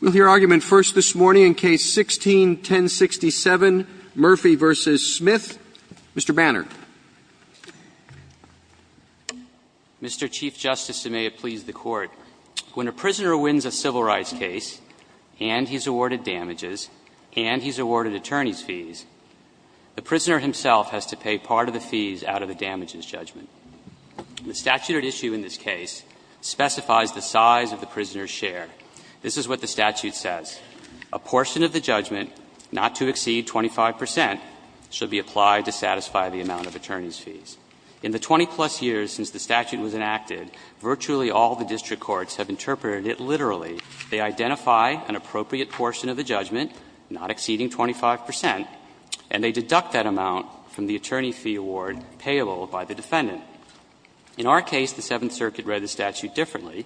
We'll hear argument first this morning in Case 16-1067, Murphy v. Smith. Mr. Banner. Mr. Chief Justice, and may it please the Court, when a prisoner wins a civil rights case, and he's awarded damages, and he's awarded attorney's fees, the prisoner himself has to pay part of the fees out of the damages judgment. The statute at issue in this case specifies the size of the prisoner's share. This is what the statute says. A portion of the judgment not to exceed 25 percent should be applied to satisfy the amount of attorney's fees. In the 20-plus years since the statute was enacted, virtually all the district courts have interpreted it literally. They identify an appropriate portion of the judgment not exceeding 25 percent, and they deduct that amount from the attorney fee award payable by the defendant. In our case, the Seventh Circuit read the statute differently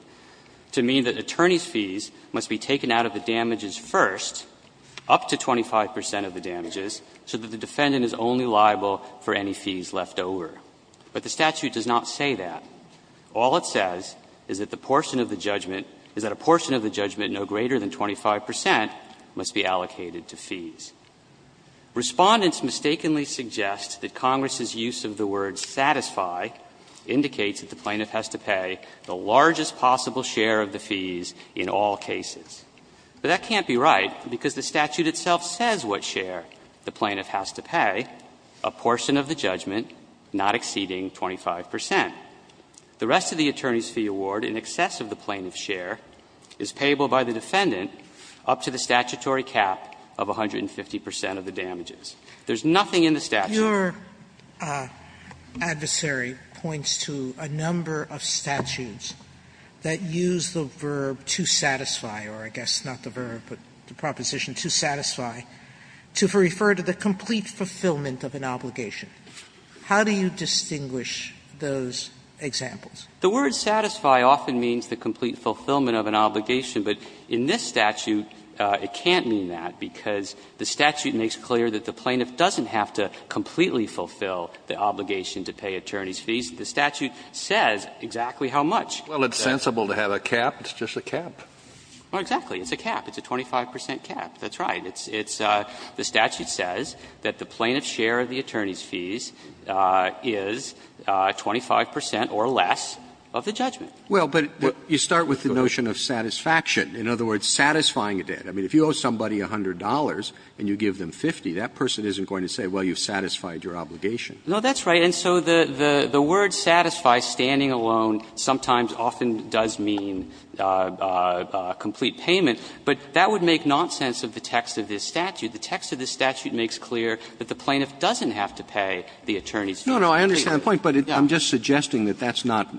to mean that attorney's fees must be taken out of the damages first, up to 25 percent of the damages, so that the defendant is only liable for any fees left over. But the statute does not say that. All it says is that the portion of the judgment no greater than 25 percent must be allocated to fees. Respondents mistakenly suggest that Congress's use of the word satisfy indicates that the plaintiff has to pay the largest possible share of the fees in all cases. But that can't be right, because the statute itself says what share the plaintiff has to pay, a portion of the judgment not exceeding 25 percent. The rest of the attorney's fee award in excess of the plaintiff's share is payable by the defendant up to the statutory cap of 150 percent of the damages. There's nothing in the statute. Sotomayor, your adversary points to a number of statutes that use the verb to satisfy, or I guess not the verb, but the proposition, to satisfy, to refer to the complete fulfillment of an obligation. How do you distinguish those examples? The word satisfy often means the complete fulfillment of an obligation, but in this statute it can't mean that, because the statute makes clear that the plaintiff doesn't have to completely fulfill the obligation to pay attorney's fees. The statute says exactly how much. Roberts, Well, it's sensible to have a cap. It's just a cap. Well, exactly. It's a cap. It's a 25 percent cap. That's right. It's the statute says that the plaintiff's share of the attorney's fees is 25 percent or less of the judgment. Roberts, Well, but you start with the notion of satisfaction. In other words, satisfying a debt. I mean, if you owe somebody $100 and you give them 50, that person isn't going to say, well, you've satisfied your obligation. No, that's right. And so the word satisfy, standing alone, sometimes often does mean complete payment, but that would make nonsense of the text of this statute. The text of this statute makes clear that the plaintiff doesn't have to pay the attorney's fees. No, no, I understand the point, but I'm just suggesting that that's not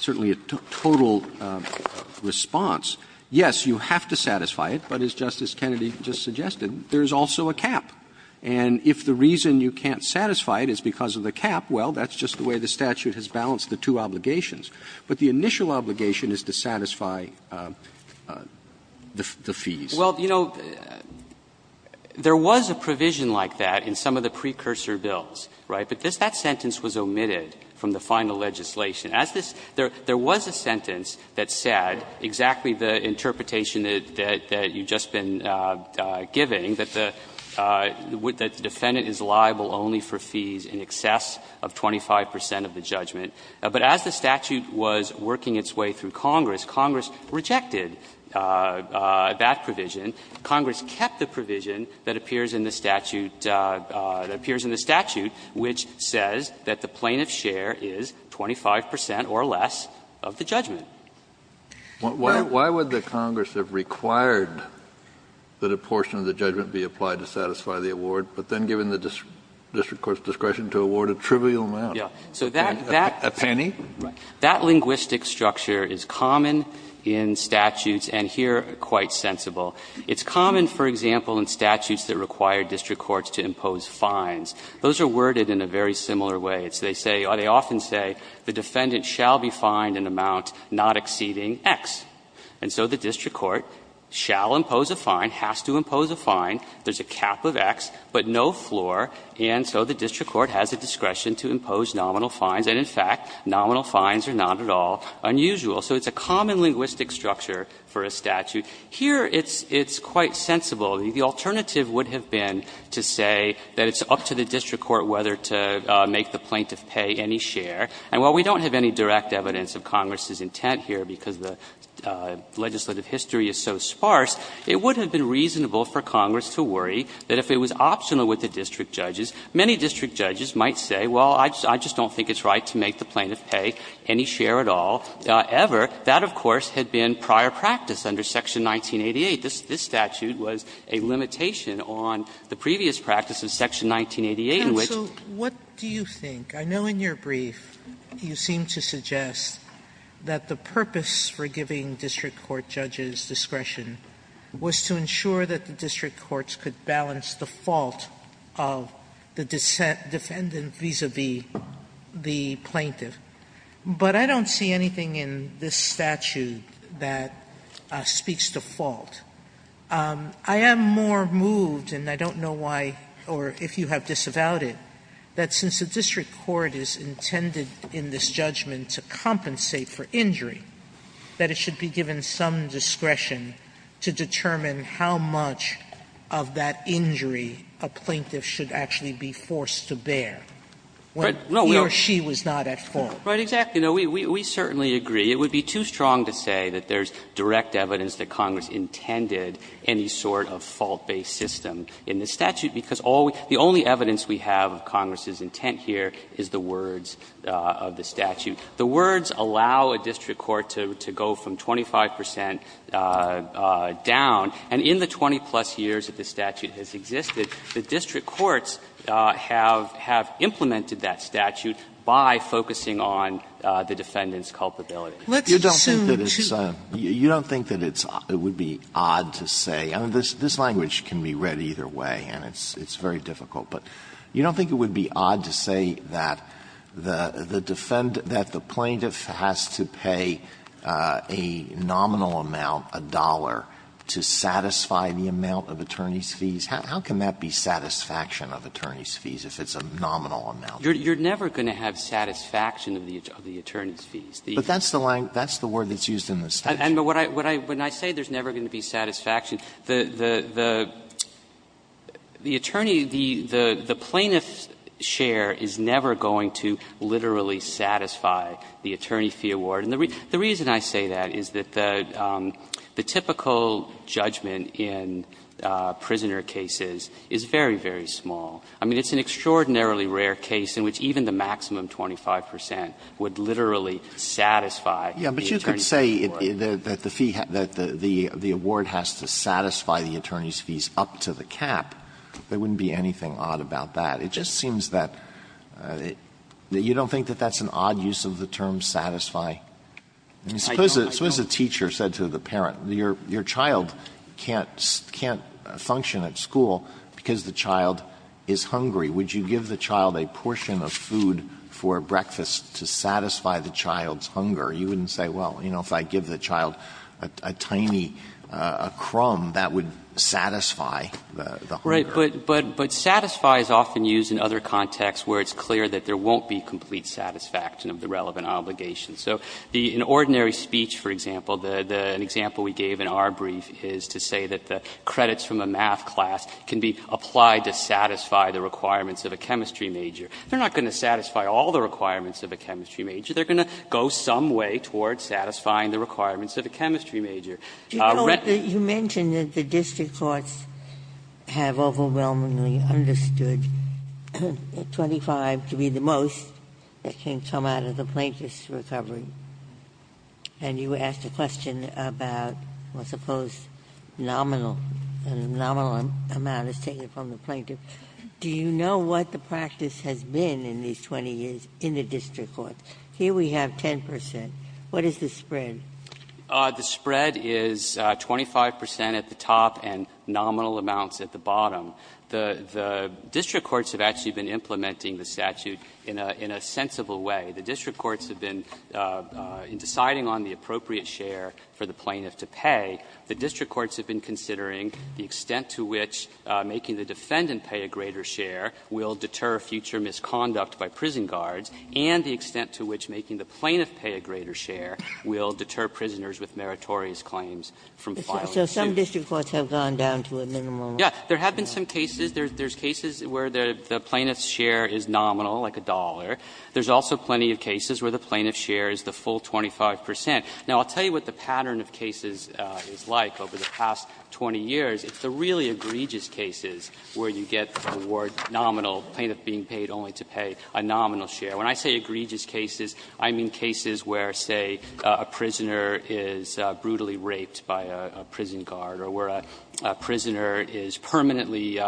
certainly a total response. Yes, you have to satisfy it, but as Justice Kennedy just suggested, there's also a cap. And if the reason you can't satisfy it is because of the cap, well, that's just the way the statute has balanced the two obligations. But the initial obligation is to satisfy the fees. Well, you know, there was a provision like that in some of the precursor bills, right? But that sentence was omitted from the final legislation. As this – there was a sentence that said exactly the interpretation that you've just been giving, that the defendant is liable only for fees in excess of 25 percent of the judgment. But as the statute was working its way through Congress, Congress rejected that provision. Congress kept the provision that appears in the statute, which says that the plaintiff's liability is 25 percent or less of the judgment. Kennedy, why would the Congress have required that a portion of the judgment be applied to satisfy the award, but then given the district court's discretion to award a trivial amount? Yeah. So that – A penny? That linguistic structure is common in statutes, and here quite sensible. It's common, for example, in statutes that require district courts to impose fines. Those are worded in a very similar way. It's – they say – they often say the defendant shall be fined an amount not exceeding X, and so the district court shall impose a fine, has to impose a fine. There's a cap of X, but no floor, and so the district court has a discretion to impose nominal fines, and in fact, nominal fines are not at all unusual. So it's a common linguistic structure for a statute. Here it's quite sensible. The alternative would have been to say that it's up to the district court whether to make the plaintiff pay any share, and while we don't have any direct evidence of Congress's intent here because the legislative history is so sparse, it would have been reasonable for Congress to worry that if it was optional with the district judges, many district judges might say, well, I just don't think it's right to make the plaintiff pay any share at all, ever. That, of course, had been prior practice under Section 1988. This statute was a limitation on the previous practice of Section 1988 in which the plaintiff was to pay any share. So what do you think? I know in your brief, you seem to suggest that the purpose for giving district court judges discretion was to ensure that the district courts could balance the fault of the defendant vis-à-vis the plaintiff, but I don't see anything in this statute that speaks to fault. I am more moved, and I don't know why or if you have disavowed it, that since the district court is intended in this judgment to compensate for injury, that it should be given some discretion to determine how much of that injury a plaintiff should actually be forced to bear when he or she was not at fault. Right, exactly. We certainly agree. It would be too strong to say that there's direct evidence that Congress intended any sort of fault-based system in this statute, because the only evidence we have of Congress's intent here is the words of the statute. The words allow a district court to go from 25 percent down, and in the 20-plus years that this statute has existed, the district courts have implemented that statute by focusing on the defendant's culpability. Let's assume, too. You don't think that it's odd to say – I mean, this language can be read either way, and it's very difficult, but you don't think it would be odd to say that the defendant, that the plaintiff has to pay a nominal amount, a dollar, to satisfy the amount of attorney's fees? How can that be satisfaction of attorney's fees if it's a nominal amount? You're never going to have satisfaction of the attorney's fees. But that's the line – that's the word that's used in the statute. When I say there's never going to be satisfaction, the attorney, the plaintiff's share is never going to literally satisfy the attorney fee award. And the reason I say that is that the typical judgment in prisoner cases is very, very small. I mean, it's an extraordinarily rare case in which even the maximum 25 percent would literally satisfy the attorney's fee award. Alito, but you could say that the fee – that the award has to satisfy the attorney's fees up to the cap. There wouldn't be anything odd about that. It just seems that you don't think that that's an odd use of the term satisfy? I mean, suppose a teacher said to the parent, your child can't function at school because the child is hungry. Would you give the child a portion of food for breakfast to satisfy the child's hunger? You wouldn't say, well, you know, if I give the child a tiny crumb, that would satisfy the hunger. Right. But satisfy is often used in other contexts where it's clear that there won't be complete satisfaction of the relevant obligation. So in ordinary speech, for example, an example we gave in our brief is to say that credits from a math class can be applied to satisfy the requirements of a chemistry major. They're not going to satisfy all the requirements of a chemistry major. They're going to go some way toward satisfying the requirements of a chemistry major. Ginsburg. You mentioned that the district courts have overwhelmingly understood that 25 to be the most that can come out of the plaintiff's recovery, and you asked a question about, I suppose, nominal, the nominal amount is taken from the plaintiff. Do you know what the practice has been in these 20 years in the district courts? Here we have 10 percent. What is the spread? The spread is 25 percent at the top and nominal amounts at the bottom. The district courts have actually been implementing the statute in a sensible way. The district courts have been, in deciding on the appropriate share for the plaintiff to pay, the district courts have been considering the extent to which making the defendant pay a greater share will deter future misconduct by prison guards, and the extent to which making the plaintiff pay a greater share will deter prisoners with meritorious claims from filing suits. Ginsburg. So some district courts have gone down to a minimal amount. Yeah. There have been some cases. There's cases where the plaintiff's share is nominal, like a dollar. There's also plenty of cases where the plaintiff's share is the full 25 percent. Now, I'll tell you what the pattern of cases is like over the past 20 years. It's the really egregious cases where you get the word nominal, plaintiff being paid only to pay a nominal share. When I say egregious cases, I mean cases where, say, a prisoner is brutally raped by a prison guard or where a prisoner is permanently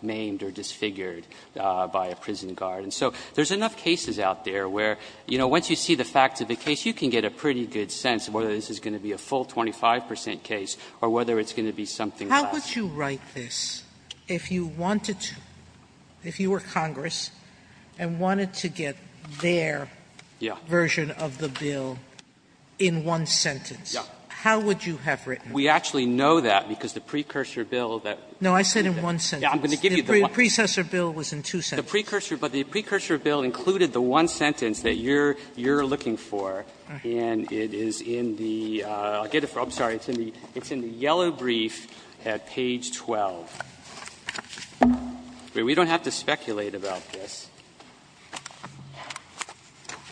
maimed or disfigured by a prison guard. And so there's enough cases out there where, you know, once you see the facts of the case, you can get a pretty good sense of whether this is going to be a full 25 percent case or whether it's going to be something less. How would you write this if you wanted to, if you were Congress and wanted to get their version of the bill in one sentence, how would you have written it? We actually know that, because the precursor bill that we did. No, I said in one sentence. Yeah, I'm going to give you the one. The precursor bill was in two sentences. But the precursor bill included the one sentence that you're looking for, and it is in the – I'll get it for you. I'm sorry, it's in the yellow brief at page 12. We don't have to speculate about this.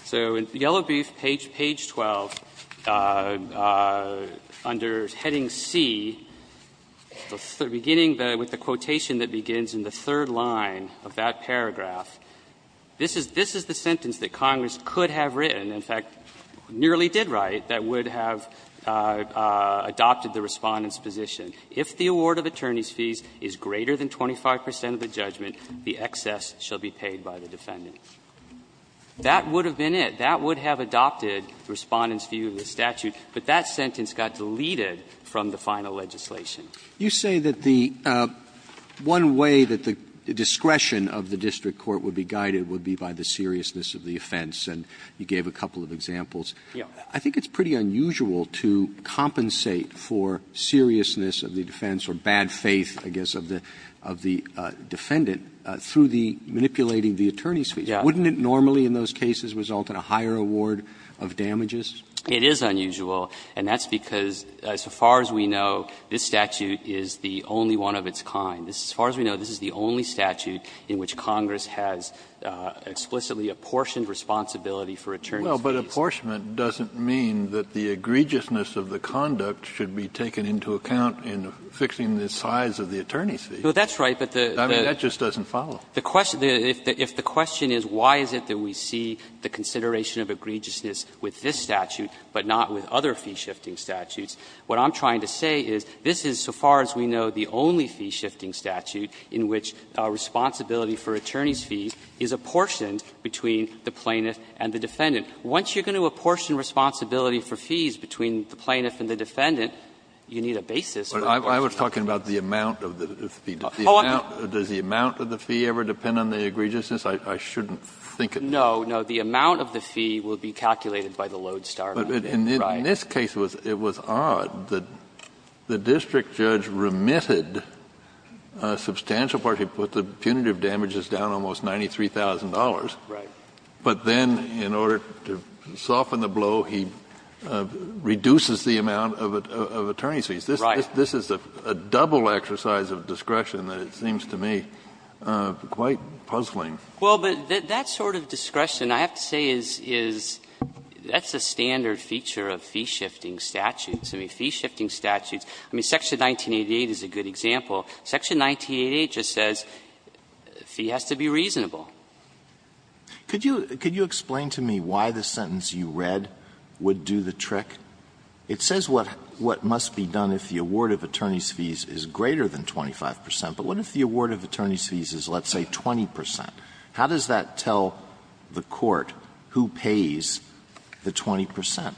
So in yellow brief, page 12, under heading C, beginning with the quotation that begins in the third line of that paragraph, this is the sentence that Congress could have written, in fact, nearly did write, that would have adopted the Respondent's position. If the award of attorney's fees is greater than 25 percent of the judgment, the excess shall be paid by the defendant. That would have been it. That would have adopted Respondent's view of the statute, but that sentence got deleted from the final legislation. Roberts. You say that the – one way that the discretion of the district court would be guided would be by the seriousness of the offense, and you gave a couple of examples. Yeah. I think it's pretty unusual to compensate for seriousness of the defense, or bad faith, I guess, of the defendant, through the manipulating the attorney's fees. Yeah. Wouldn't it normally in those cases result in a higher award of damages? It is unusual, and that's because, as far as we know, this statute is the only one of its kind. As far as we know, this is the only statute in which Congress has explicitly apportioned responsibility for attorney's fees. Well, but apportionment doesn't mean that the egregiousness of the conduct should be taken into account in fixing the size of the attorney's fees. Well, that's right, but the – I mean, that just doesn't follow. The question – if the question is why is it that we see the consideration of egregiousness with this statute, but not with other fee-shifting statutes, what I'm trying to say is this is, so far as we know, the only fee-shifting statute in which responsibility for attorney's fees is apportioned between the plaintiff and the defendant. Once you're going to apportion responsibility for fees between the plaintiff and the defendant, you need a basis for apportioning fees. I was talking about the amount of the fee. Does the amount of the fee ever depend on the egregiousness? I shouldn't think it does. No. No, the amount of the fee will be calculated by the lodestar amount. Right. In this case, it was odd that the district judge remitted a substantial part. He put the punitive damages down almost $93,000. Right. But then in order to soften the blow, he reduces the amount of attorney's fees. Right. This is a double exercise of discretion that it seems to me quite puzzling. Well, but that sort of discretion, I have to say, is that's a standard feature of fee-shifting statutes. I mean, fee-shifting statutes, I mean, section 1988 is a good example. Section 1988 just says fee has to be reasonable. Could you explain to me why the sentence you read would do the trick? It says what must be done if the award of attorney's fees is greater than 25 percent, but what if the award of attorney's fees is, let's say, 20 percent? How does that tell the court who pays the 20 percent?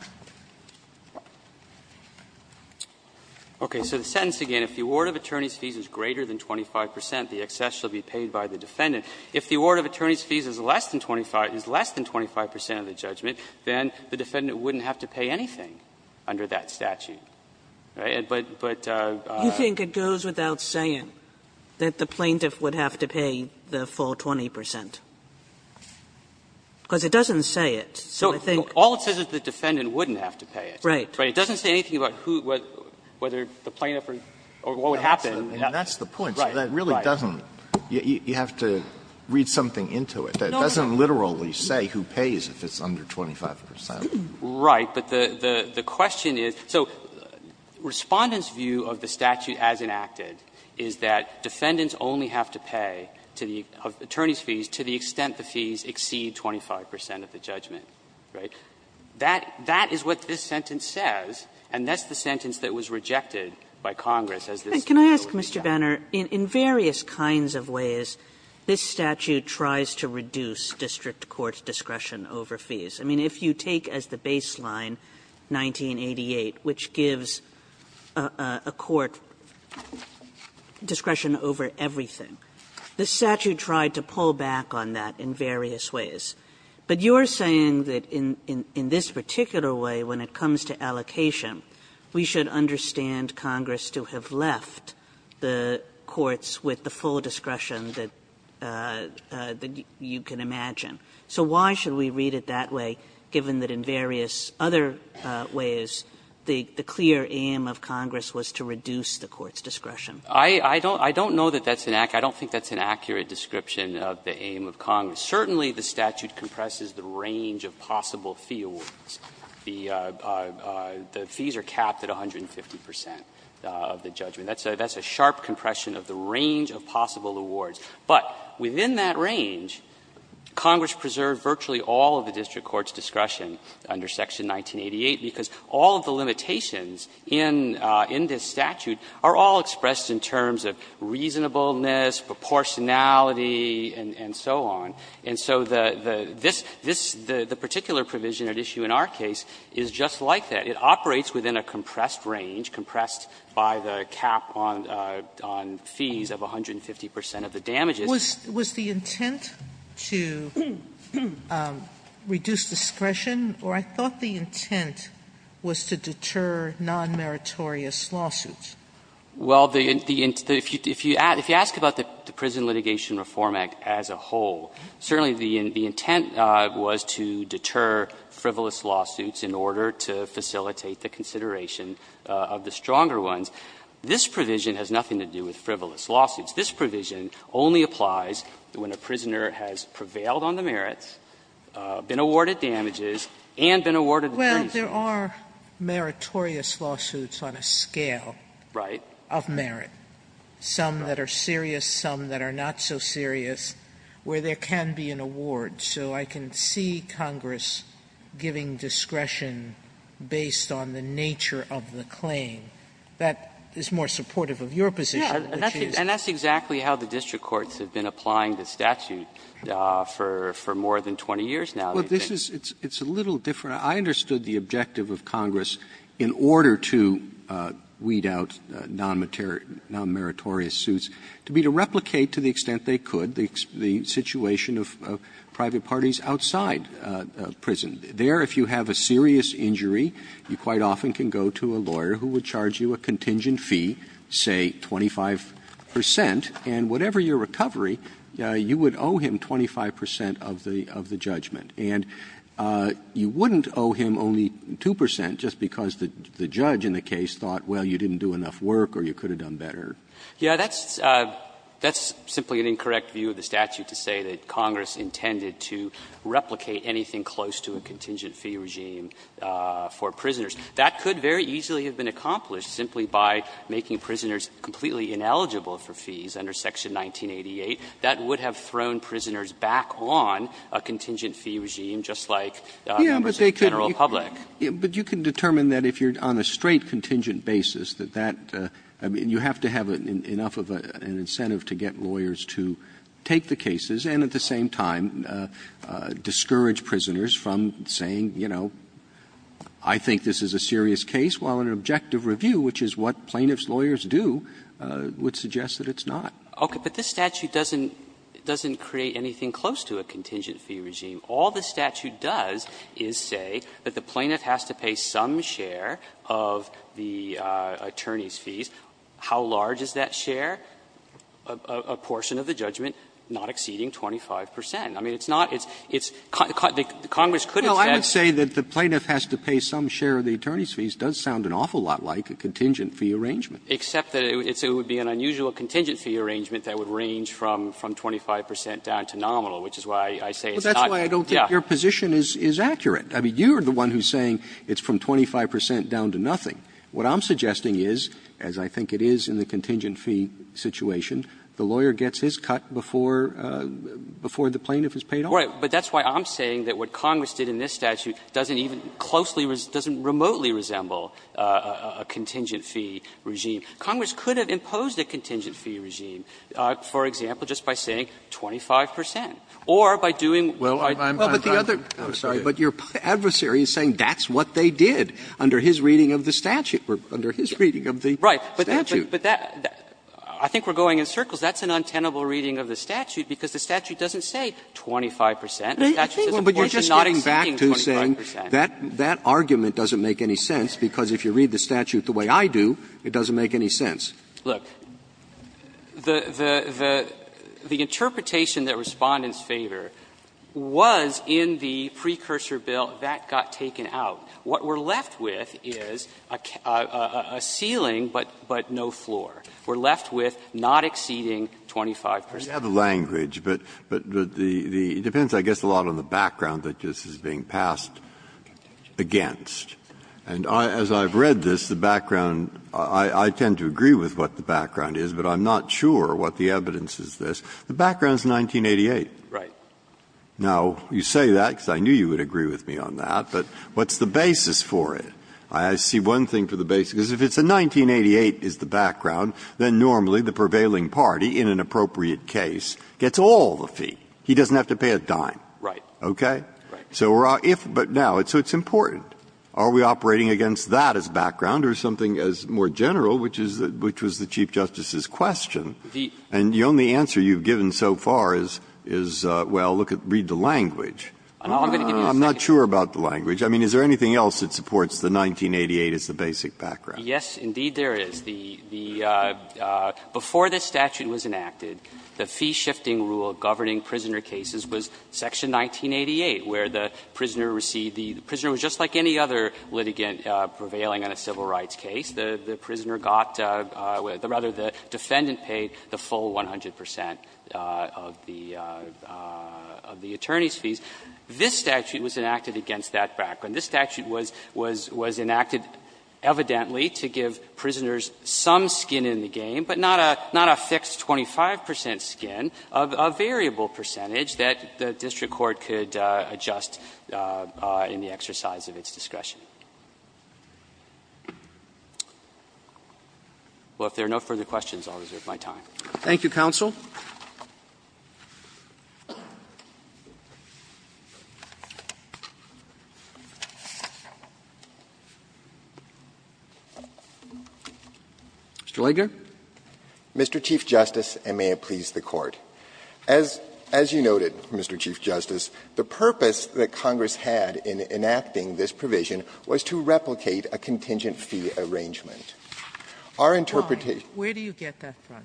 Okay. So the sentence again, if the award of attorney's fees is greater than 25 percent, the excess shall be paid by the defendant. If the award of attorney's fees is less than 25 percent of the judgment, then the defendant wouldn't have to pay anything under that statute. Right. But, but you think it goes without saying that the plaintiff would have to pay the defendant for 20 percent, because it doesn't say it. So I think all it says is the defendant wouldn't have to pay it. Right. It doesn't say anything about who, whether the plaintiff or what would happen. And that's the point. Right. That really doesn't, you have to read something into it. No, no. It doesn't literally say who pays if it's under 25 percent. Right. But the question is, so Respondent's view of the statute as enacted is that defendants only have to pay to the, of attorney's fees to the extent the fees exceed 25 percent of the judgment. That is what this sentence says. And that's the sentence that was rejected by Congress as this statute was being rejected. Kagan Can I ask, Mr. Banner, in various kinds of ways this statute tries to reduce District court's discretion over fees. I mean, if you take as the baseline 1988, which gives a court discretion over every thing, this statute tried to pull back on that in various ways. But you're saying that in this particular way, when it comes to allocation, we should understand Congress to have left the courts with the full discretion that you can imagine. So why should we read it that way, given that in various other ways the clear aim of Congress was to reduce the court's discretion? Banner I don't know that that's an accurate, I don't think that's an accurate description of the aim of Congress. Certainly the statute compresses the range of possible fee awards. The fees are capped at 150 percent of the judgment. That's a sharp compression of the range of possible awards. But within that range, Congress preserved virtually all of the District court's discretion under section 1988, because all of the limitations in this statute are all expressed in terms of reasonableness, proportionality, and so on. And so the particular provision at issue in our case is just like that. It operates within a compressed range, compressed by the cap on fees of 150 percent of the damages. Sotomayor Was the intent to reduce discretion, or I thought the intent was to deter nonmeritorious lawsuits. Well, if you ask about the Prison Litigation Reform Act as a whole, certainly the intent was to deter frivolous lawsuits in order to facilitate the consideration of the stronger ones. This provision has nothing to do with frivolous lawsuits. This provision only applies when a prisoner has prevailed on the merits, been awarded damages, and been awarded the brief. Sotomayor Well, there are meritorious lawsuits on a scale of merit. Some that are serious, some that are not so serious, where there can be an award. So I can see Congress giving discretion based on the nature of the claim. That is more supportive of your position. Mr. McHenry And that's exactly how the District courts have been applying the statute for more than 20 years now. Well, this is – it's a little different. I understood the objective of Congress in order to weed out nonmeritorious suits to be to replicate to the extent they could the situation of private parties outside prison. There, if you have a serious injury, you quite often can go to a lawyer who would charge you a contingent fee, say, 25 percent, and whatever your recovery, you would owe him 25 percent of the judgment. And you wouldn't owe him only 2 percent just because the judge in the case thought, well, you didn't do enough work or you could have done better. Mr. McHenry Yeah, that's simply an incorrect view of the statute to say that Congress intended to replicate anything close to a contingent fee regime for prisoners. That could very easily have been accomplished simply by making prisoners completely ineligible for fees under Section 1988. That would have thrown prisoners back on a contingent fee regime, just like members of the general public. Robertson But you can determine that if you're on a straight contingent basis that that – I mean, you have to have enough of an incentive to get lawyers to take the cases and at the same time discourage prisoners from saying, you know, I think this is a serious case, while an objective review, which is what plaintiffs' lawyers do, would suggest that it's not. Okay. But this statute doesn't create anything close to a contingent fee regime. All the statute does is say that the plaintiff has to pay some share of the attorney's fees. How large is that share? A portion of the judgment not exceeding 25 percent. I mean, it's not – it's – Congress could have said – Robertson No, I would say that the plaintiff has to pay some share of the attorney's fees does sound an awful lot like a contingent fee arrangement. Robertson Except that it would be an unusual contingent fee arrangement that would range from 25 percent down to nominal, which is why I say it's not – Robertson Well, that's why I don't think your position is accurate. I mean, you're the one who's saying it's from 25 percent down to nothing. What I'm suggesting is, as I think it is in the contingent fee situation, the lawyer gets his cut before the plaintiff is paid off. Robertson Right. But that's why I'm saying that what Congress did in this statute doesn't even closely – doesn't remotely resemble a contingent fee regime. Congress could have imposed a contingent fee regime, for example, just by saying 25 percent, or by doing what I do. Robertson Well, I'm sorry, but your adversary is saying that's what they did under his reading of the statute, or under his reading of the statute. Robertson Right, but that – I think we're going in circles. That's an untenable reading of the statute, because the statute doesn't say 25 percent. The statute says, of course, you're not exceeding 25 percent. Robertson But you're just getting back to saying that argument doesn't make any sense, because if you read the statute the way I do, it doesn't make any sense. Robertson Look, the interpretation that Respondents favor was in the precursor bill that got taken out. What we're left with is a ceiling but no floor. We're left with not exceeding 25 percent. Breyer I have a language, but it depends, I guess, a lot on the background that this is being passed against. And as I've read this, the background – I tend to agree with what the background is, but I'm not sure what the evidence is. The background is 1988. Now, you say that because I knew you would agree with me on that, but what's the basis for it? I see one thing for the basis, because if it's a 1988 is the background, then normally the prevailing party, in an appropriate case, gets all the feet. He doesn't have to pay a dime. Robertson Right. Breyer Okay? Robertson Right. Breyer So if – but now, so it's important. Are we operating against that as background or something as more general, which is – which was the Chief Justice's question? And the only answer you've given so far is, well, look at – read the language. I'm not sure about the language. I mean, is there anything else that supports the 1988 as the basic background? Robertson Yes, indeed there is. The – before this statute was enacted, the fee-shifting rule governing prisoner cases was section 1988, where the prisoner received the – the prisoner was just like any other litigant prevailing on a civil rights case. The prisoner got – rather, the defendant paid the full 100 percent of the attorney's fees. This statute was enacted against that background. This statute was – was enacted evidently to give prisoners some skin in the game, but not a – not a fixed 25 percent skin, a variable percentage that the district court could adjust in the exercise of its discretion. Well, if there are no further questions, I'll reserve my time. Roberts Thank you, counsel. Mr. Lager. Lager Mr. Chief Justice, and may it please the Court. As – as you noted, Mr. Chief Justice, the purpose that Congress had in enacting this provision was to replicate a contingent fee arrangement. Our interpretation – Sotomayor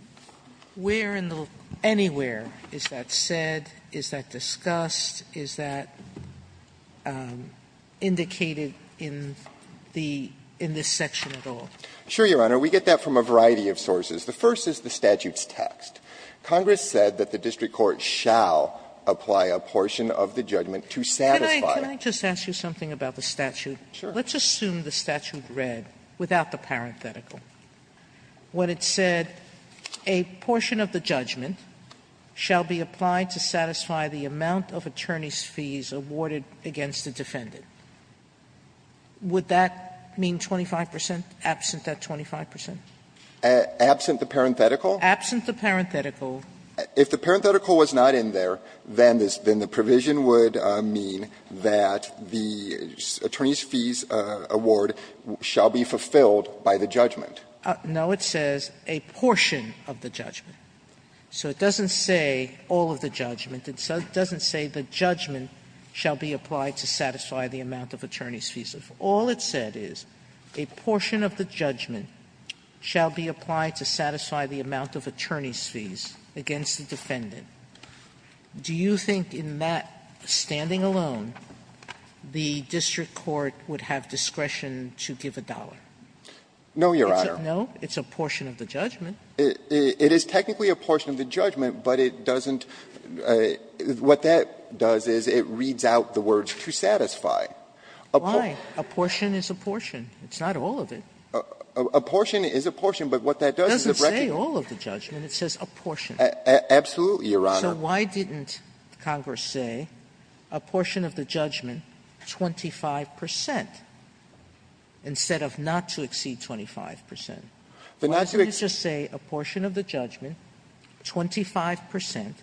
Where in the – anywhere is that said? Is that discussed? Is that indicated in the – in this section at all? Lager Sure, Your Honor. We get that from a variety of sources. The first is the statute's text. Congress said that the district court shall apply a portion of the judgment to satisfy it. Sotomayor Can I – can I just ask you something about the statute? Lager Sure. Sotomayor Let's assume the statute read, without the parenthetical, what it said, that a portion of the judgment shall be applied to satisfy the amount of attorney's fees awarded against the defendant. Would that mean 25 percent, absent that 25 percent? Lager Absent the parenthetical? Sotomayor Absent the parenthetical. Lager If the parenthetical was not in there, then this – then the provision would mean that the attorney's fees award shall be fulfilled by the judgment. Sotomayor No, it says a portion of the judgment. So it doesn't say all of the judgment. It doesn't say the judgment shall be applied to satisfy the amount of attorney's fees. If all it said is a portion of the judgment shall be applied to satisfy the amount of attorney's fees against the defendant, do you think in that standing alone the district court would have discretion to give a dollar? Lager No, Your Honor. Sotomayor No. It's a portion of the judgment. Lager It is technically a portion of the judgment, but it doesn't – what that does is it reads out the words to satisfy. Sotomayor Why? A portion is a portion. It's not all of it. Lager A portion is a portion, but what that does is it recognizes – Sotomayor It doesn't say all of the judgment. It says a portion. Lager Absolutely, Your Honor. Sotomayor So why didn't Congress say a portion of the judgment, 25 percent, instead of not to exceed 25 percent? Why did it just say a portion of the judgment, 25 percent,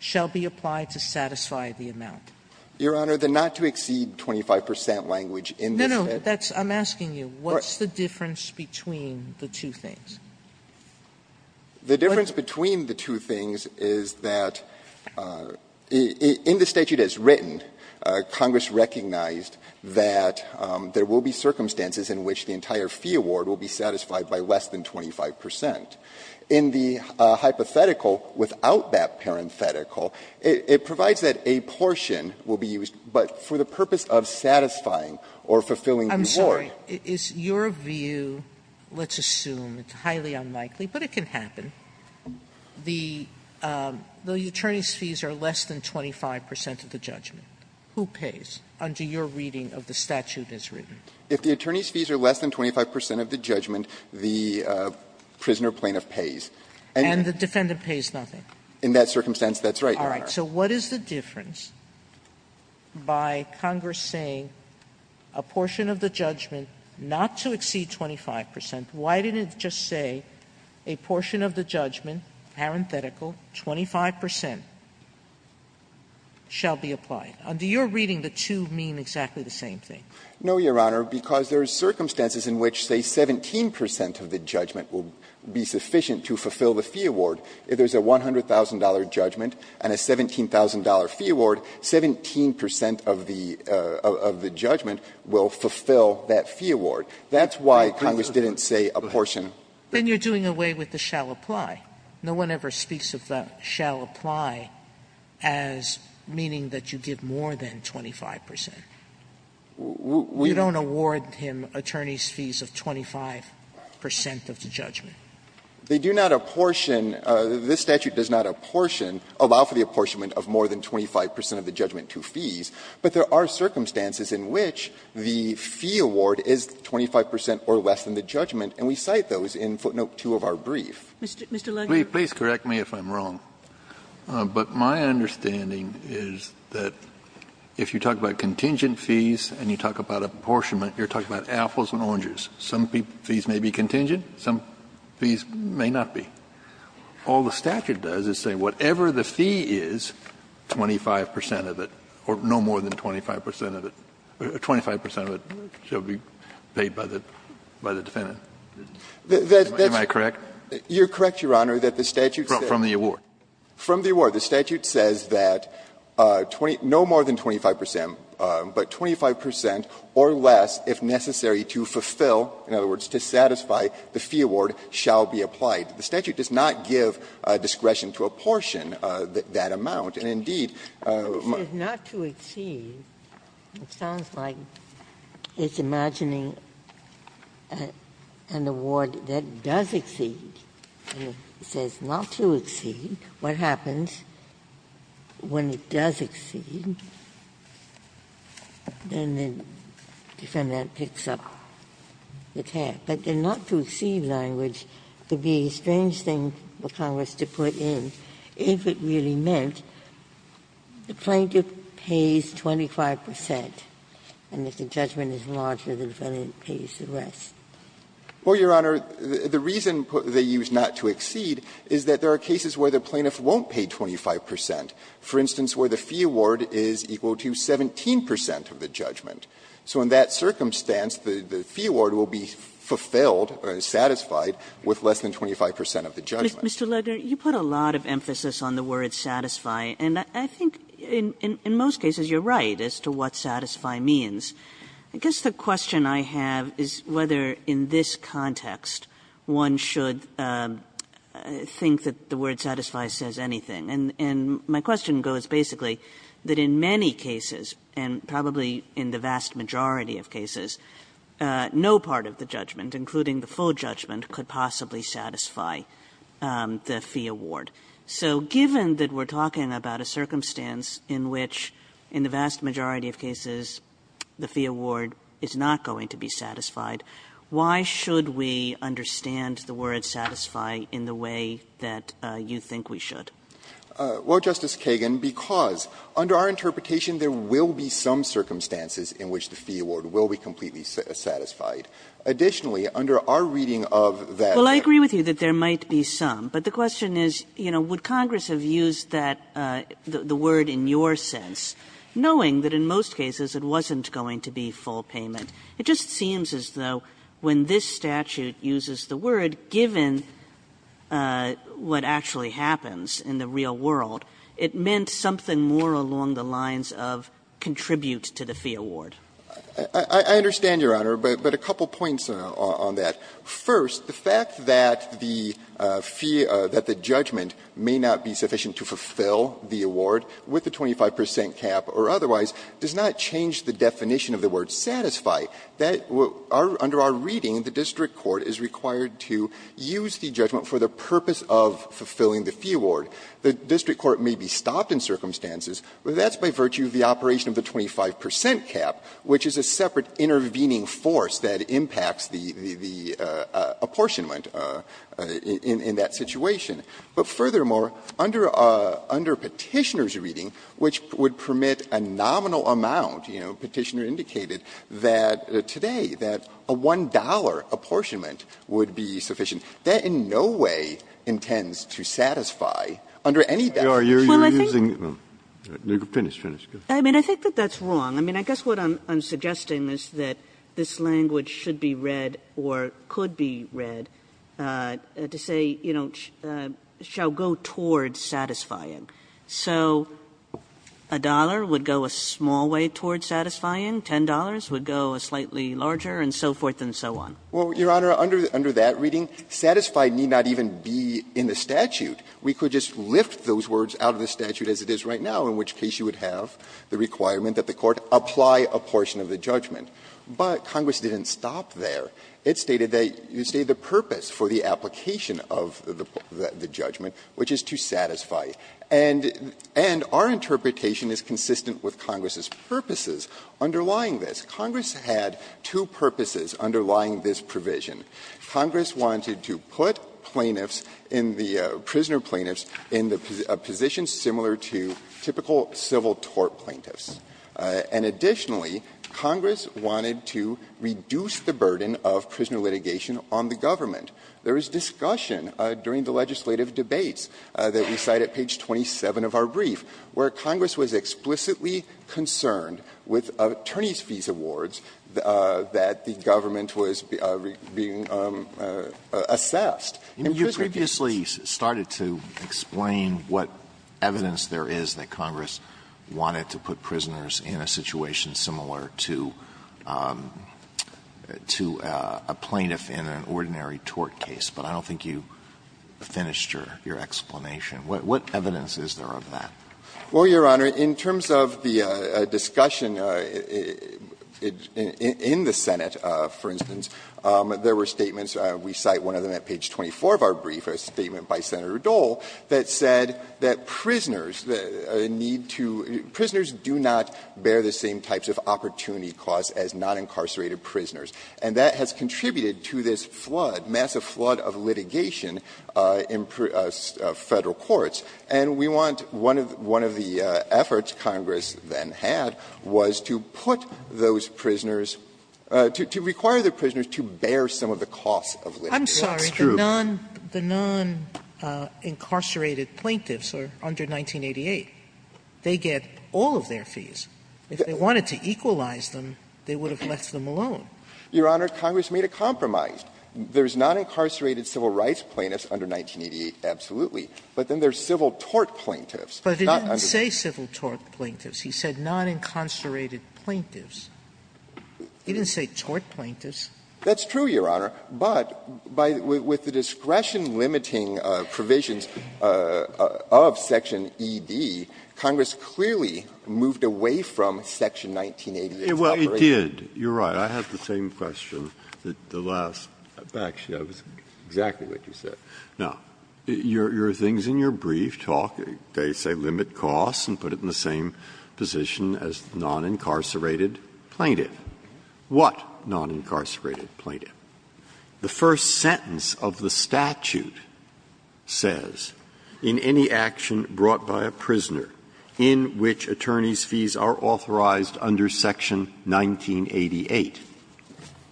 shall be applied to satisfy the amount? Lager Your Honor, the not to exceed 25 percent language in the statute – Sotomayor No, no. That's – I'm asking you, what's the difference between the two things? Lager The difference between the two things is that in the statute as written, Congress recognized that there will be circumstances in which the entire fee award will be satisfied by less than 25 percent. In the hypothetical without that parenthetical, it provides that a portion will be used, but for the purpose of satisfying or fulfilling the award. Sotomayor I'm sorry. Is your view, let's assume it's highly unlikely, but it can happen, the attorney's fees are less than 25 percent of the judgment, who pays under your reading of the statute as written? Lager If the attorney's fees are less than 25 percent of the judgment, the prisoner plaintiff pays. Sotomayor And the defendant pays nothing. Lager In that circumstance, that's right, Your Honor. Sotomayor All right. So what is the difference by Congress saying a portion of the judgment not to exceed 25 percent? Why didn't it just say a portion of the judgment, parenthetical, 25 percent, shall be applied? Under your reading, the two mean exactly the same thing. Lager No, Your Honor, because there are circumstances in which, say, 17 percent of the judgment will be sufficient to fulfill the fee award. If there's a $100,000 judgment and a $17,000 fee award, 17 percent of the judgment will fulfill that fee award. That's why Congress didn't say a portion. Sotomayor Then you're doing away with the shall apply. No one ever speaks of the shall apply as meaning that you give more than 25 percent. You don't award him attorney's fees of 25 percent of the judgment. Lager They do not apportion – this statute does not apportion, allow for the apportionment of more than 25 percent of the judgment to fees. But there are circumstances in which the fee award is 25 percent or less than the judgment, and we cite those in footnote 2 of our brief. Sotomayor Mr. Lager? Kennedy Please correct me if I'm wrong, but my understanding is that if you talk about contingent fees and you talk about apportionment, you're talking about apples and oranges. Some fees may be contingent, some fees may not be. All the statute does is say whatever the fee is, 25 percent of it, or no more than 25 percent of it, or 25 percent of it shall be paid by the defendant. Am I correct? Lager You're correct, Your Honor, that the statute says that. Kennedy From the award. Lager From the award. The statute says that no more than 25 percent, but 25 percent or less, if necessary to fulfill, in other words, to satisfy, the fee award shall be applied. The statute does not give discretion to apportion that amount, and indeed my Ginsburg It says not to exceed. It sounds like it's imagining an award that does exceed, and it says not to exceed. What happens when it does exceed? Then the defendant picks up the tab. But the not to exceed language could be a strange thing for Congress to put in if it really meant the plaintiff pays 25 percent, and if the judgment is larger, the defendant pays the rest. Rosenkranz Well, Your Honor, the reason they use not to exceed is that there are cases where the plaintiff won't pay 25 percent, for instance, where the fee award is equal to 17 percent of the judgment. So in that circumstance, the fee award will be fulfilled, or satisfied, with less than 25 percent of the judgment. Kagan Mr. Lager, you put a lot of emphasis on the word satisfy, and I think in most cases you're right as to what satisfy means. I guess the question I have is whether in this context one should think that the word satisfy says anything. And my question goes basically that in many cases, and probably in the vast majority of cases, no part of the judgment, including the full judgment, could possibly satisfy the fee award. So given that we're talking about a circumstance in which in the vast majority of cases the fee award is not going to be satisfied, why should we understand the word satisfy in the way that you think we should? Well, Justice Kagan, because under our interpretation, there will be some circumstances in which the fee award will be completely satisfied. Additionally, under our reading of that law. Kagan Well, I agree with you that there might be some, but the question is, you know, would Congress have used that, the word in your sense, knowing that in most cases it wasn't going to be full payment? It just seems as though when this statute uses the word, given what actually happens in the real world, it meant something more along the lines of contribute to the fee award. I understand, Your Honor, but a couple points on that. First, the fact that the fee, that the judgment may not be sufficient to fulfill the award with the 25 percent cap or otherwise does not change the definition of the word satisfy. Under our reading, the district court is required to use the judgment for the purpose of fulfilling the fee award. The district court may be stopped in circumstances, but that's by virtue of the operation of the 25 percent cap, which is a separate intervening force that impacts the apportionment in that situation. But furthermore, under Petitioner's reading, which would permit a nominal amount, you know, Petitioner indicated that today, that a $1 apportionment would be sufficient. That, in no way, intends to satisfy under any statute. Kagan. Well, I think that's wrong. I mean, I guess what I'm suggesting is that this language should be read or could be read to say, you know, shall go toward satisfying. So a dollar would go a small way toward satisfying, $10 would go a slightly larger, and so forth and so on. Well, Your Honor, under that reading, satisfy need not even be in the statute. We could just lift those words out of the statute as it is right now, in which case you would have the requirement that the court apply a portion of the judgment. But Congress didn't stop there. It stated that you say the purpose for the application of the judgment, which is to satisfy. And our interpretation is consistent with Congress's purposes underlying this. Congress had two purposes underlying this provision. Congress wanted to put plaintiffs in the prisoner plaintiffs in a position similar to typical civil tort plaintiffs. And additionally, Congress wanted to reduce the burden of prisoner litigation on the government. There was discussion during the legislative debates that we cite at page 27 of our awards that the government was being assessed in prisoner cases. Alito, you previously started to explain what evidence there is that Congress wanted to put prisoners in a situation similar to a plaintiff in an ordinary tort case, but I don't think you finished your explanation. What evidence is there of that? Well, Your Honor, in terms of the discussion in the Senate, for instance, there were statements, we cite one of them at page 24 of our brief, a statement by Senator Dole that said that prisoners need to be prisoners do not bear the same types of opportunity costs as non-incarcerated prisoners. And that has contributed to this flood, massive flood of litigation in Federal courts. And we want one of the efforts Congress then had was to put those prisoners to require the prisoners to bear some of the costs of litigation. Sotomayor, I'm sorry, the non-incarcerated plaintiffs are under 1988. They get all of their fees. If they wanted to equalize them, they would have left them alone. Your Honor, Congress made a compromise. There is non-incarcerated civil rights plaintiffs under 1988, absolutely. But then there is civil tort plaintiffs. Sotomayor, but he didn't say civil tort plaintiffs. He said non-incarcerated plaintiffs. He didn't say tort plaintiffs. That's true, Your Honor. But by the discretion limiting provisions of Section ED, Congress clearly moved away from Section 1988. Breyer, it did. You are right. I have the same question that the last actually, that was exactly what you said. Now, your things in your brief talk, they say limit costs and put it in the same position as non-incarcerated plaintiff. What non-incarcerated plaintiff? The first sentence of the statute says, In any action brought by a prisoner in which attorney's fees are authorized under Section 1988.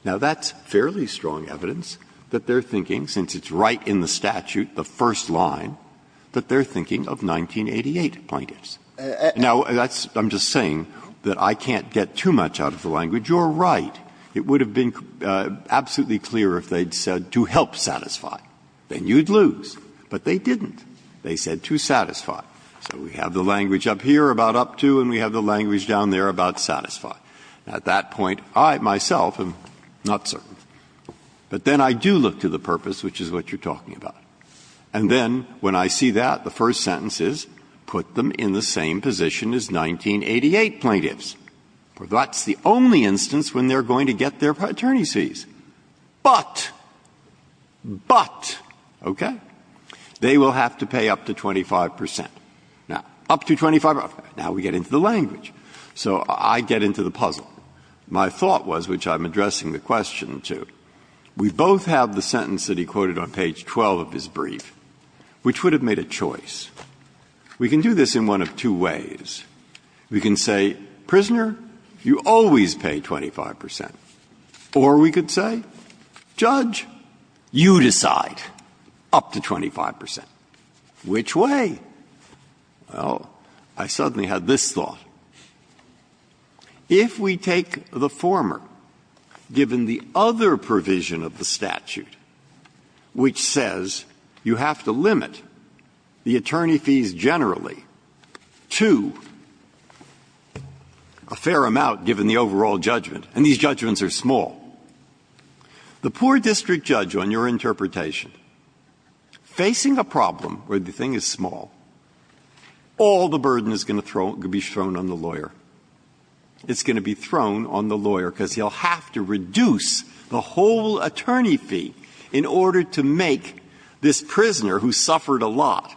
Now, that's fairly strong evidence that they are thinking, since it's right in the statute, the first line, that they are thinking of 1988 plaintiffs. Now, I'm just saying that I can't get too much out of the language. You are right. It would have been absolutely clear if they had said to help satisfy. Then you would lose. But they didn't. They said to satisfy. So we have the language up here about up to and we have the language down there about satisfy. At that point, I myself am not certain. But then I do look to the purpose, which is what you are talking about. And then when I see that, the first sentence is, put them in the same position as 1988 plaintiffs. That's the only instance when they are going to get their attorney's fees. But, but, okay, they will have to pay up to 25 percent. Now, up to 25 percent, now we get into the language. So I get into the puzzle. My thought was, which I'm addressing the question to, we both have the sentence that he quoted on page 12 of his brief, which would have made a choice. We can do this in one of two ways. We can say, prisoner, you always pay 25 percent. Or we could say, judge, you decide, up to 25 percent. Which way? Well, I suddenly had this thought. If we take the former, given the other provision of the statute, which says you have to limit the attorney fees generally to a fair amount given the overall judgment, and these judgments are small, the poor district judge, on your interpretation, facing a problem where the thing is small, all the burden is going to be thrown on the lawyer. It's going to be thrown on the lawyer, because he'll have to reduce the whole attorney fee in order to make this prisoner, who suffered a lot,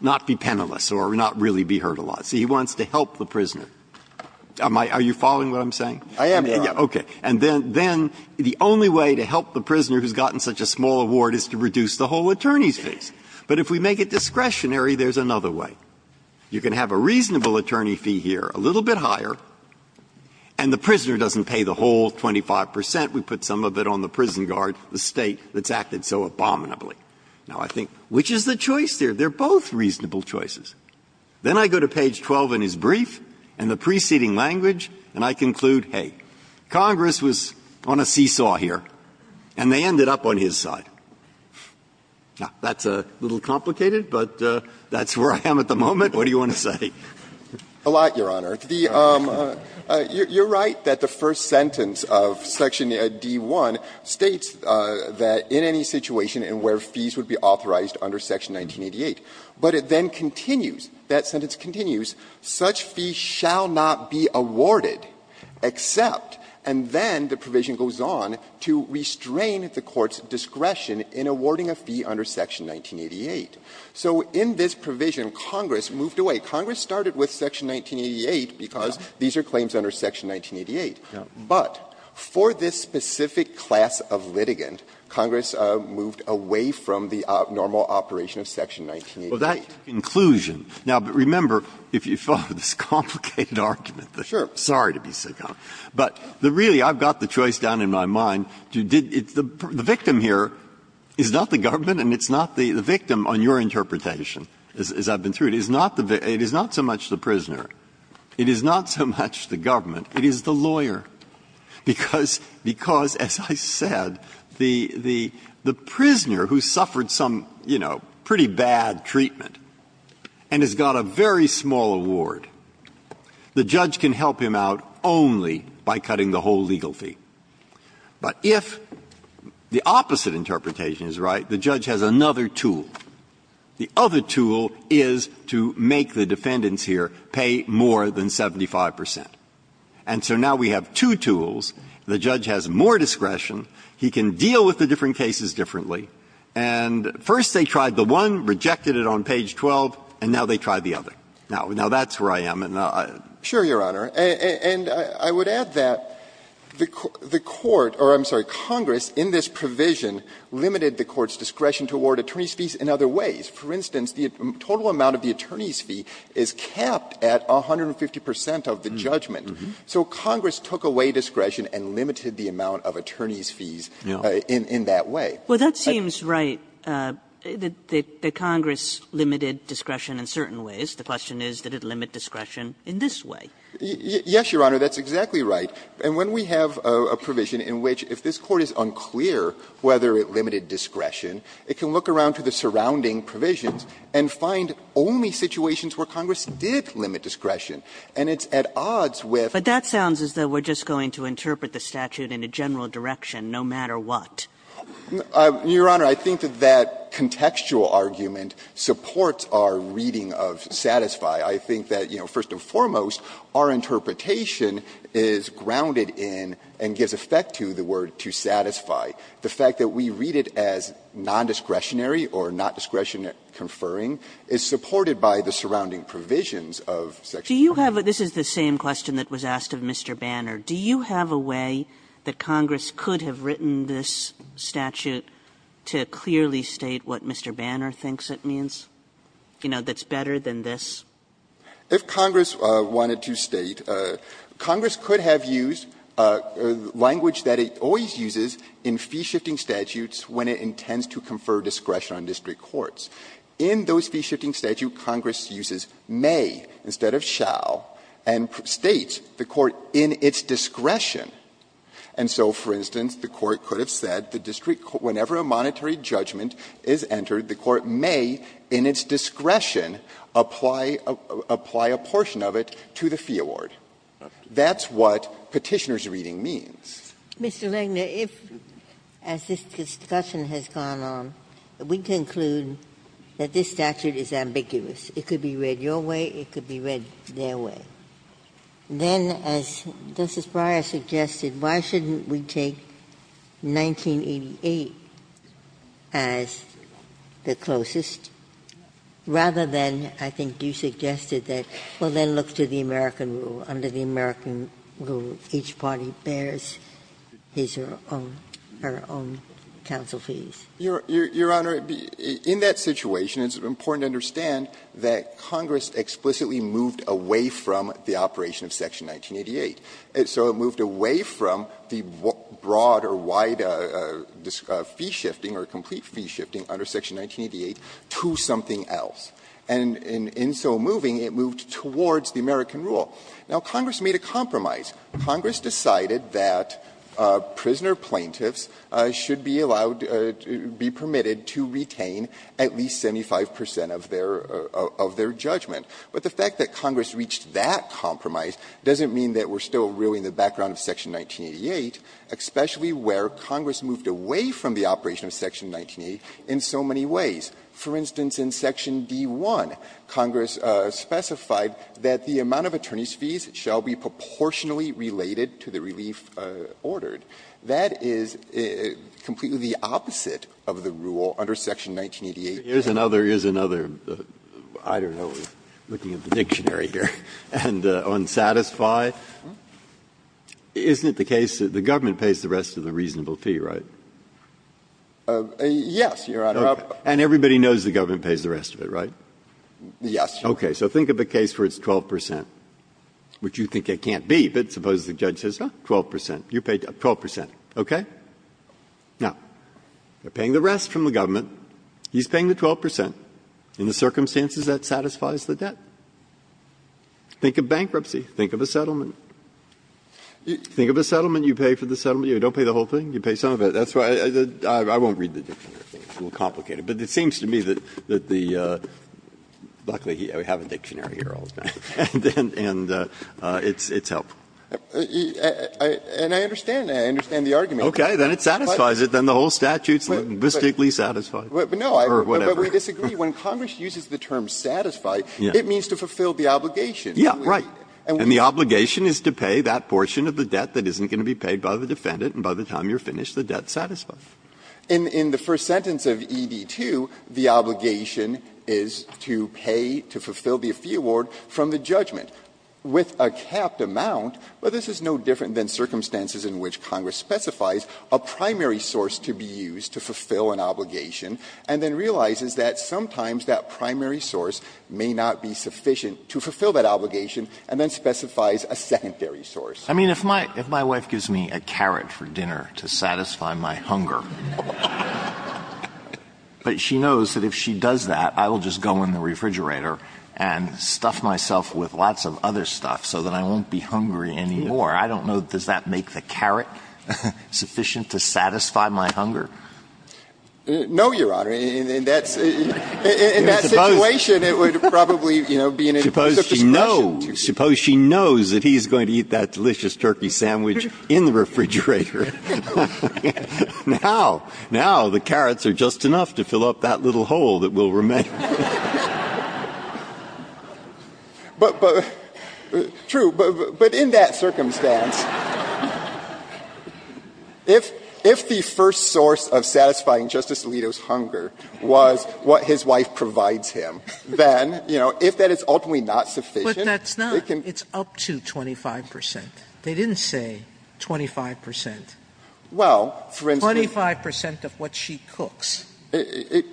not be penalized or not really be hurt a lot. So he wants to help the prisoner. Are you following what I'm saying? Breyer. Okay. And then the only way to help the prisoner who's gotten such a small award is to reduce the whole attorney's fees. But if we make it discretionary, there's another way. You can have a reasonable attorney fee here, a little bit higher, and the prisoner doesn't pay the whole 25 percent. We put some of it on the prison guard, the State that's acted so abominably. Now, I think, which is the choice there? They're both reasonable choices. Then I go to page 12 in his brief and the preceding language, and I conclude, hey, Congress was on a seesaw here, and they ended up on his side. Now, that's a little complicated, but that's where I am at the moment. What do you want to say? Rosenkranz. A lot, Your Honor. The you're right that the first sentence of section D.1 states that in any situation and where fees would be authorized under section 1988, but it then continues, that sentence continues, such fees shall not be awarded except, and then the provision goes on, to restrain the court's discretion in awarding a fee under section 1988. So in this provision, Congress moved away. Congress started with section 1988 because these are claims under section 1988. But for this specific class of litigant, Congress moved away from the normal operation of section 1988. Well, that conclusion, now, but remember, if you follow this complicated argument, sorry to be so calm, but really, I've got the choice down in my mind. The victim here is not the government and it's not the victim, on your interpretation, as I've been through it. It is not so much the prisoner, it is not so much the government, it is the lawyer. Because, as I said, the prisoner who suffered some, you know, pretty bad treatment and has got a very small award, the judge can help him out only by cutting the whole legal fee. But if the opposite interpretation is right, the judge has another tool. The other tool is to make the defendants here pay more than 75 percent. And so now we have two tools. The judge has more discretion. He can deal with the different cases differently. And first they tried the one, rejected it on page 12, and now they try the other. Now, that's where I am. And I don't know. Sure, Your Honor. And I would add that the court or, I'm sorry, Congress in this provision limited the court's discretion to award attorney's fees in other ways. For instance, the total amount of the attorney's fee is capped at 150 percent of the judgment. So Congress took away discretion and limited the amount of attorney's fees in that way. Well, that seems right, that Congress limited discretion in certain ways. The question is, did it limit discretion in this way? Yes, Your Honor, that's exactly right. And when we have a provision in which, if this Court is unclear whether it limited discretion, it can look around to the surrounding provisions and find only situations where Congress did limit discretion. And it's at odds with But that sounds as though we're just going to interpret the statute in a general direction, no matter what. Your Honor, I think that that contextual argument supports our reading of satisfy. I think that, you know, first and foremost, our interpretation is grounded in and gives effect to the word to satisfy. The fact that we read it as nondiscretionary or not discretionary conferring is supported by the surrounding provisions of Section 40. Do you have a – this is the same question that was asked of Mr. Banner. Do you have a way that Congress could have written this statute to clearly state what Mr. Banner thinks it means, you know, that's better than this? If Congress wanted to state, Congress could have used language that it always uses in fee-shifting statutes when it intends to confer discretion on district courts. In those fee-shifting statutes, Congress uses may instead of shall and states the discretion. And so, for instance, the Court could have said the district court, whenever a monetary judgment is entered, the court may, in its discretion, apply a portion of it to the fee award. That's what Petitioner's reading means. Ginsburg. Mr. Langner, if, as this discussion has gone on, we conclude that this statute is ambiguous, it could be read your way, it could be read their way, then as the Justice Breyer suggested, why shouldn't we take 1988 as the closest, rather than I think you suggested that, well, then look to the American rule. Under the American rule, each party bears his or her own counsel fees. Your Honor, in that situation, it's important to understand that Congress explicitly moved away from the operation of Section 1988. So it moved away from the broad or wide fee-shifting or complete fee-shifting under Section 1988 to something else. And in so moving, it moved towards the American rule. Now, Congress made a compromise. Congress decided that prisoner plaintiffs should be allowed, be permitted to retain at least 75 percent of their judgment. But the fact that Congress reached that compromise doesn't mean that we're still really in the background of Section 1988, especially where Congress moved away from the operation of Section 1988 in so many ways. For instance, in Section D-1, Congress specified that the amount of attorneys' fees shall be proportionally related to the relief ordered. That is completely the opposite of the rule under Section 1988. Breyer. Here's another, here's another, I don't know, looking at the dictionary here, unsatisfy. Isn't it the case that the government pays the rest of the reasonable fee, right? Yes, Your Honor. And everybody knows the government pays the rest of it, right? Yes. Okay. So think of a case where it's 12 percent, which you think it can't be. But suppose the judge says, 12 percent, you paid 12 percent, okay? Now, they're paying the rest from the government. He's paying the 12 percent in the circumstances that satisfies the debt. Think of bankruptcy. Think of a settlement. Think of a settlement. You pay for the settlement. You don't pay the whole thing. You pay some of it. That's why I won't read the dictionary. It's a little complicated. But it seems to me that the – luckily, we have a dictionary here all the time. And it's helpful. And I understand. I understand the argument. Okay. Then it satisfies it. But then the whole statute is linguistically satisfied or whatever. No, but we disagree. When Congress uses the term satisfy, it means to fulfill the obligation. Yes, right. And the obligation is to pay that portion of the debt that isn't going to be paid by the defendant. And by the time you're finished, the debt is satisfied. In the first sentence of ED-2, the obligation is to pay, to fulfill the fee award from the judgment with a capped amount. But this is no different than circumstances in which Congress specifies a primary source to be used to fulfill an obligation and then realizes that sometimes that primary source may not be sufficient to fulfill that obligation and then specifies a secondary source. I mean, if my wife gives me a carrot for dinner to satisfy my hunger, but she knows that if she does that, I will just go in the refrigerator and stuff myself with lots of other stuff so that I won't be hungry anymore, I don't know, does that make the carrot sufficient to satisfy my hunger? No, Your Honor. In that situation, it would probably, you know, be a discretion to me. Suppose she knows that he's going to eat that delicious turkey sandwich in the refrigerator. Now, now the carrots are just enough to fill up that little hole that will remain. But true, but in that circumstance, if the first source of satisfying Justice Alito's hunger was what his wife provides him, then, you know, if that is ultimately Sotomayor, but that's not, it's up to 25 percent. They didn't say 25 percent. Well, for instance. 25 percent of what she cooks. Because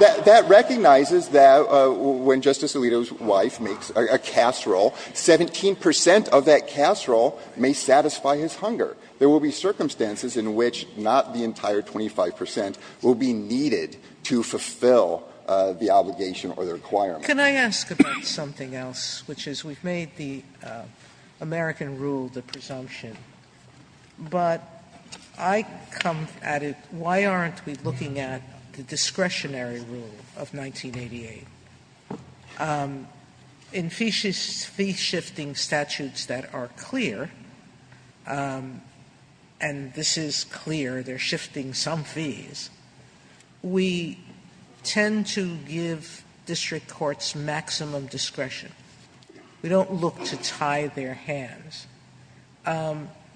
that recognizes that when Justice Alito's wife makes a casserole, 17 percent of that casserole may satisfy his hunger. There will be circumstances in which not the entire 25 percent will be needed to fulfill the obligation or the requirement. Sotomayor, can I ask about something else, which is we've made the American rule the presumption, but I come at it, why aren't we looking at the discretionary rule of 1988? In fee-shifting statutes that are clear, and this is clear, they're shifting some fees, we tend to give district courts maximum discretion. We don't look to tie their hands.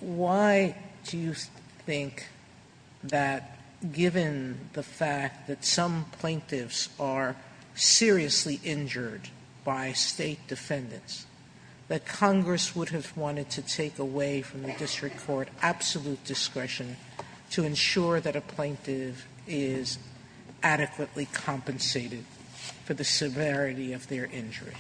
Why do you think that given the fact that some plaintiffs are seriously injured by State defendants, that Congress would have wanted to take away from the district court absolute discretion to ensure that a plaintiff is adequately compensated for the severity of their injury?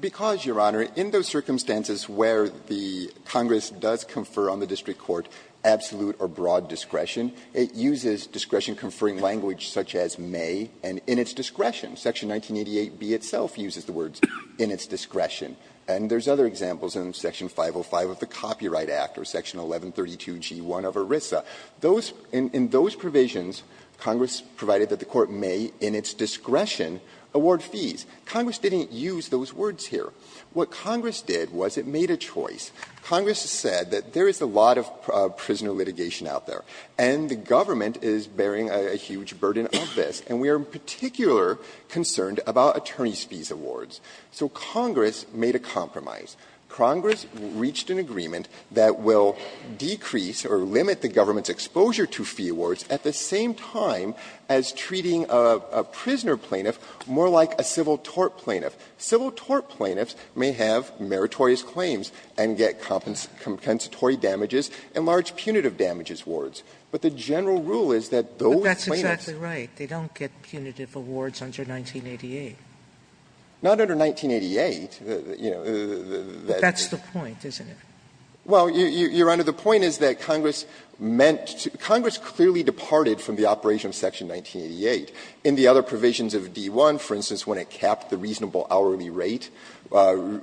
Because, Your Honor, in those circumstances where the Congress does confer on the district court absolute or broad discretion, it uses discretion-conferring language such as may, and in its discretion. Section 1988b itself uses the words in its discretion. And there's other examples in Section 505 of the Copyright Act or Section 1132g1 of ERISA. Those – in those provisions, Congress provided that the court may, in its discretion, award fees. Congress didn't use those words here. What Congress did was it made a choice. Congress said that there is a lot of prisoner litigation out there, and the government is bearing a huge burden of this, and we are in particular concerned about attorney's fees awards. So Congress made a compromise. Congress reached an agreement that will decrease or limit the government's exposure to fee awards at the same time as treating a prisoner plaintiff more like a civil tort plaintiff. Civil tort plaintiffs may have meritorious claims and get compensatory damages and large punitive damages awards. But the general rule is that those plaintiffs don't get punitive awards under 1988. Not under 1988, you know, that's the point, isn't it? Well, Your Honor, the point is that Congress meant to – Congress clearly departed from the operation of Section 1988. In the other provisions of D-1, for instance, when it capped the reasonable hourly rate,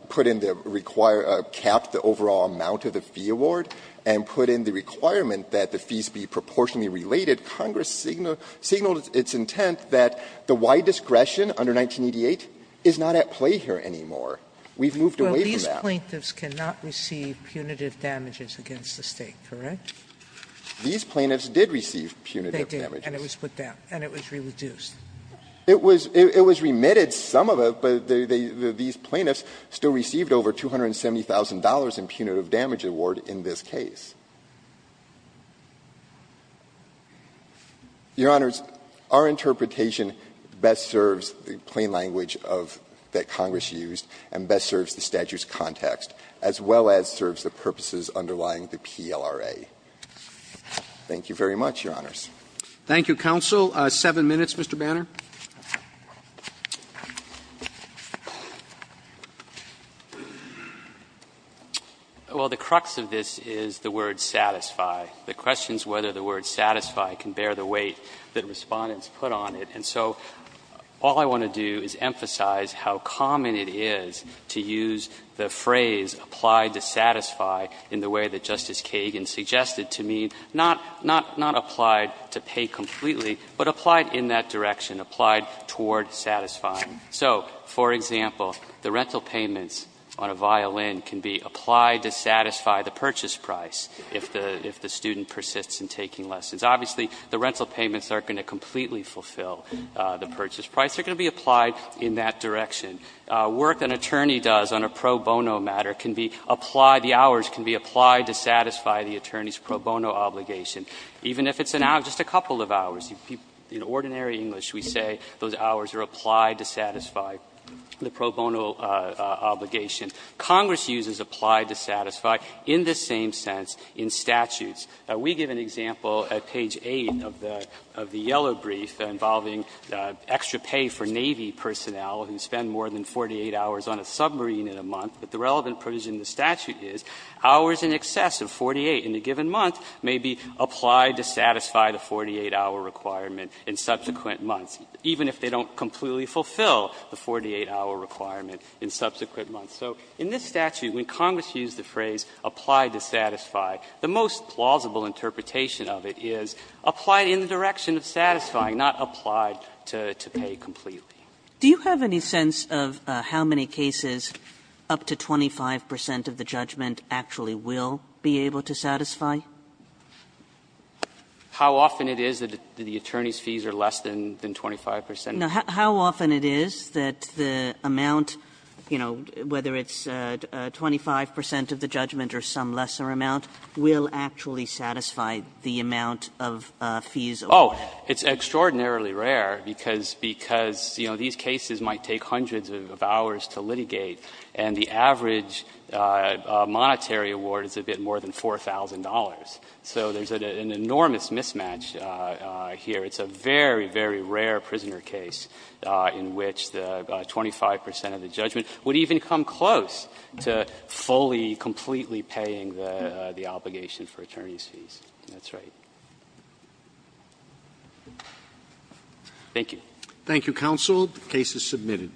put in the required – capped the overall amount of the fee award and put in the requirement that the fees be proportionally related, Congress signaled its intent that the wide discretion under 1988 is not at play here anymore. We've moved away from that. Sotomayor, Well, these plaintiffs cannot receive punitive damages against the State, correct? These plaintiffs did receive punitive damages. Sotomayor, They did, and it was put down, and it was re-reduced. It was remitted, some of it, but these plaintiffs still received over $270,000 in punitive damage award in this case. Your Honors, our interpretation best serves the plain language of – that Congress used and best serves the statute's context, as well as serves the purposes underlying the PLRA. Thank you very much, Your Honors. Thank you, counsel. Seven minutes, Mr. Banner. Well, the crux of this is the word satisfy. The question is whether the word satisfy can bear the weight that Respondents put on it. And so all I want to do is emphasize how common it is to use the phrase applied to satisfy in the way that Justice Kagan suggested to me, not – not applied to pay completely, but applied in that direction, applied toward satisfying. So, for example, the rental payments on a violin can be applied to satisfy the purchase price if the – if the student persists in taking lessons. Obviously, the rental payments aren't going to completely fulfill the purchase price. They're going to be applied in that direction. Work an attorney does on a pro bono matter can be applied – the hours can be applied to satisfy the attorney's pro bono obligation. Even if it's an hour – just a couple of hours. In ordinary English, we say those hours are applied to satisfy the pro bono obligation. Congress uses applied to satisfy in the same sense in statutes. We give an example at page 8 of the – of the yellow brief involving extra pay for Navy personnel who spend more than 48 hours on a submarine in a month, but the relevant provision in the statute is hours in excess of 48 in a given month may be applied to satisfy the 48-hour requirement in subsequent months, even if they don't completely fulfill the 48-hour requirement in subsequent months. So in this statute, when Congress used the phrase applied to satisfy, the most plausible interpretation of it is applied in the direction of satisfying, not applied to pay completely. Kagan. Do you have any sense of how many cases up to 25 percent of the judgment actually will be able to satisfy? How often it is that the attorney's fees are less than 25 percent? No. How often it is that the amount, you know, whether it's 25 percent of the judgment or some lesser amount, will actually satisfy the amount of fees awarded? Oh, it's extraordinarily rare because – because, you know, these cases might take hundreds of hours to litigate, and the average monetary award is a bit more than $4,000. So there's an enormous mismatch here. It's a very, very rare prisoner case in which the 25 percent of the judgment would even come close to fully, completely paying the obligation for attorney's fees. That's right. Thank you. Thank you, counsel. The case is submitted.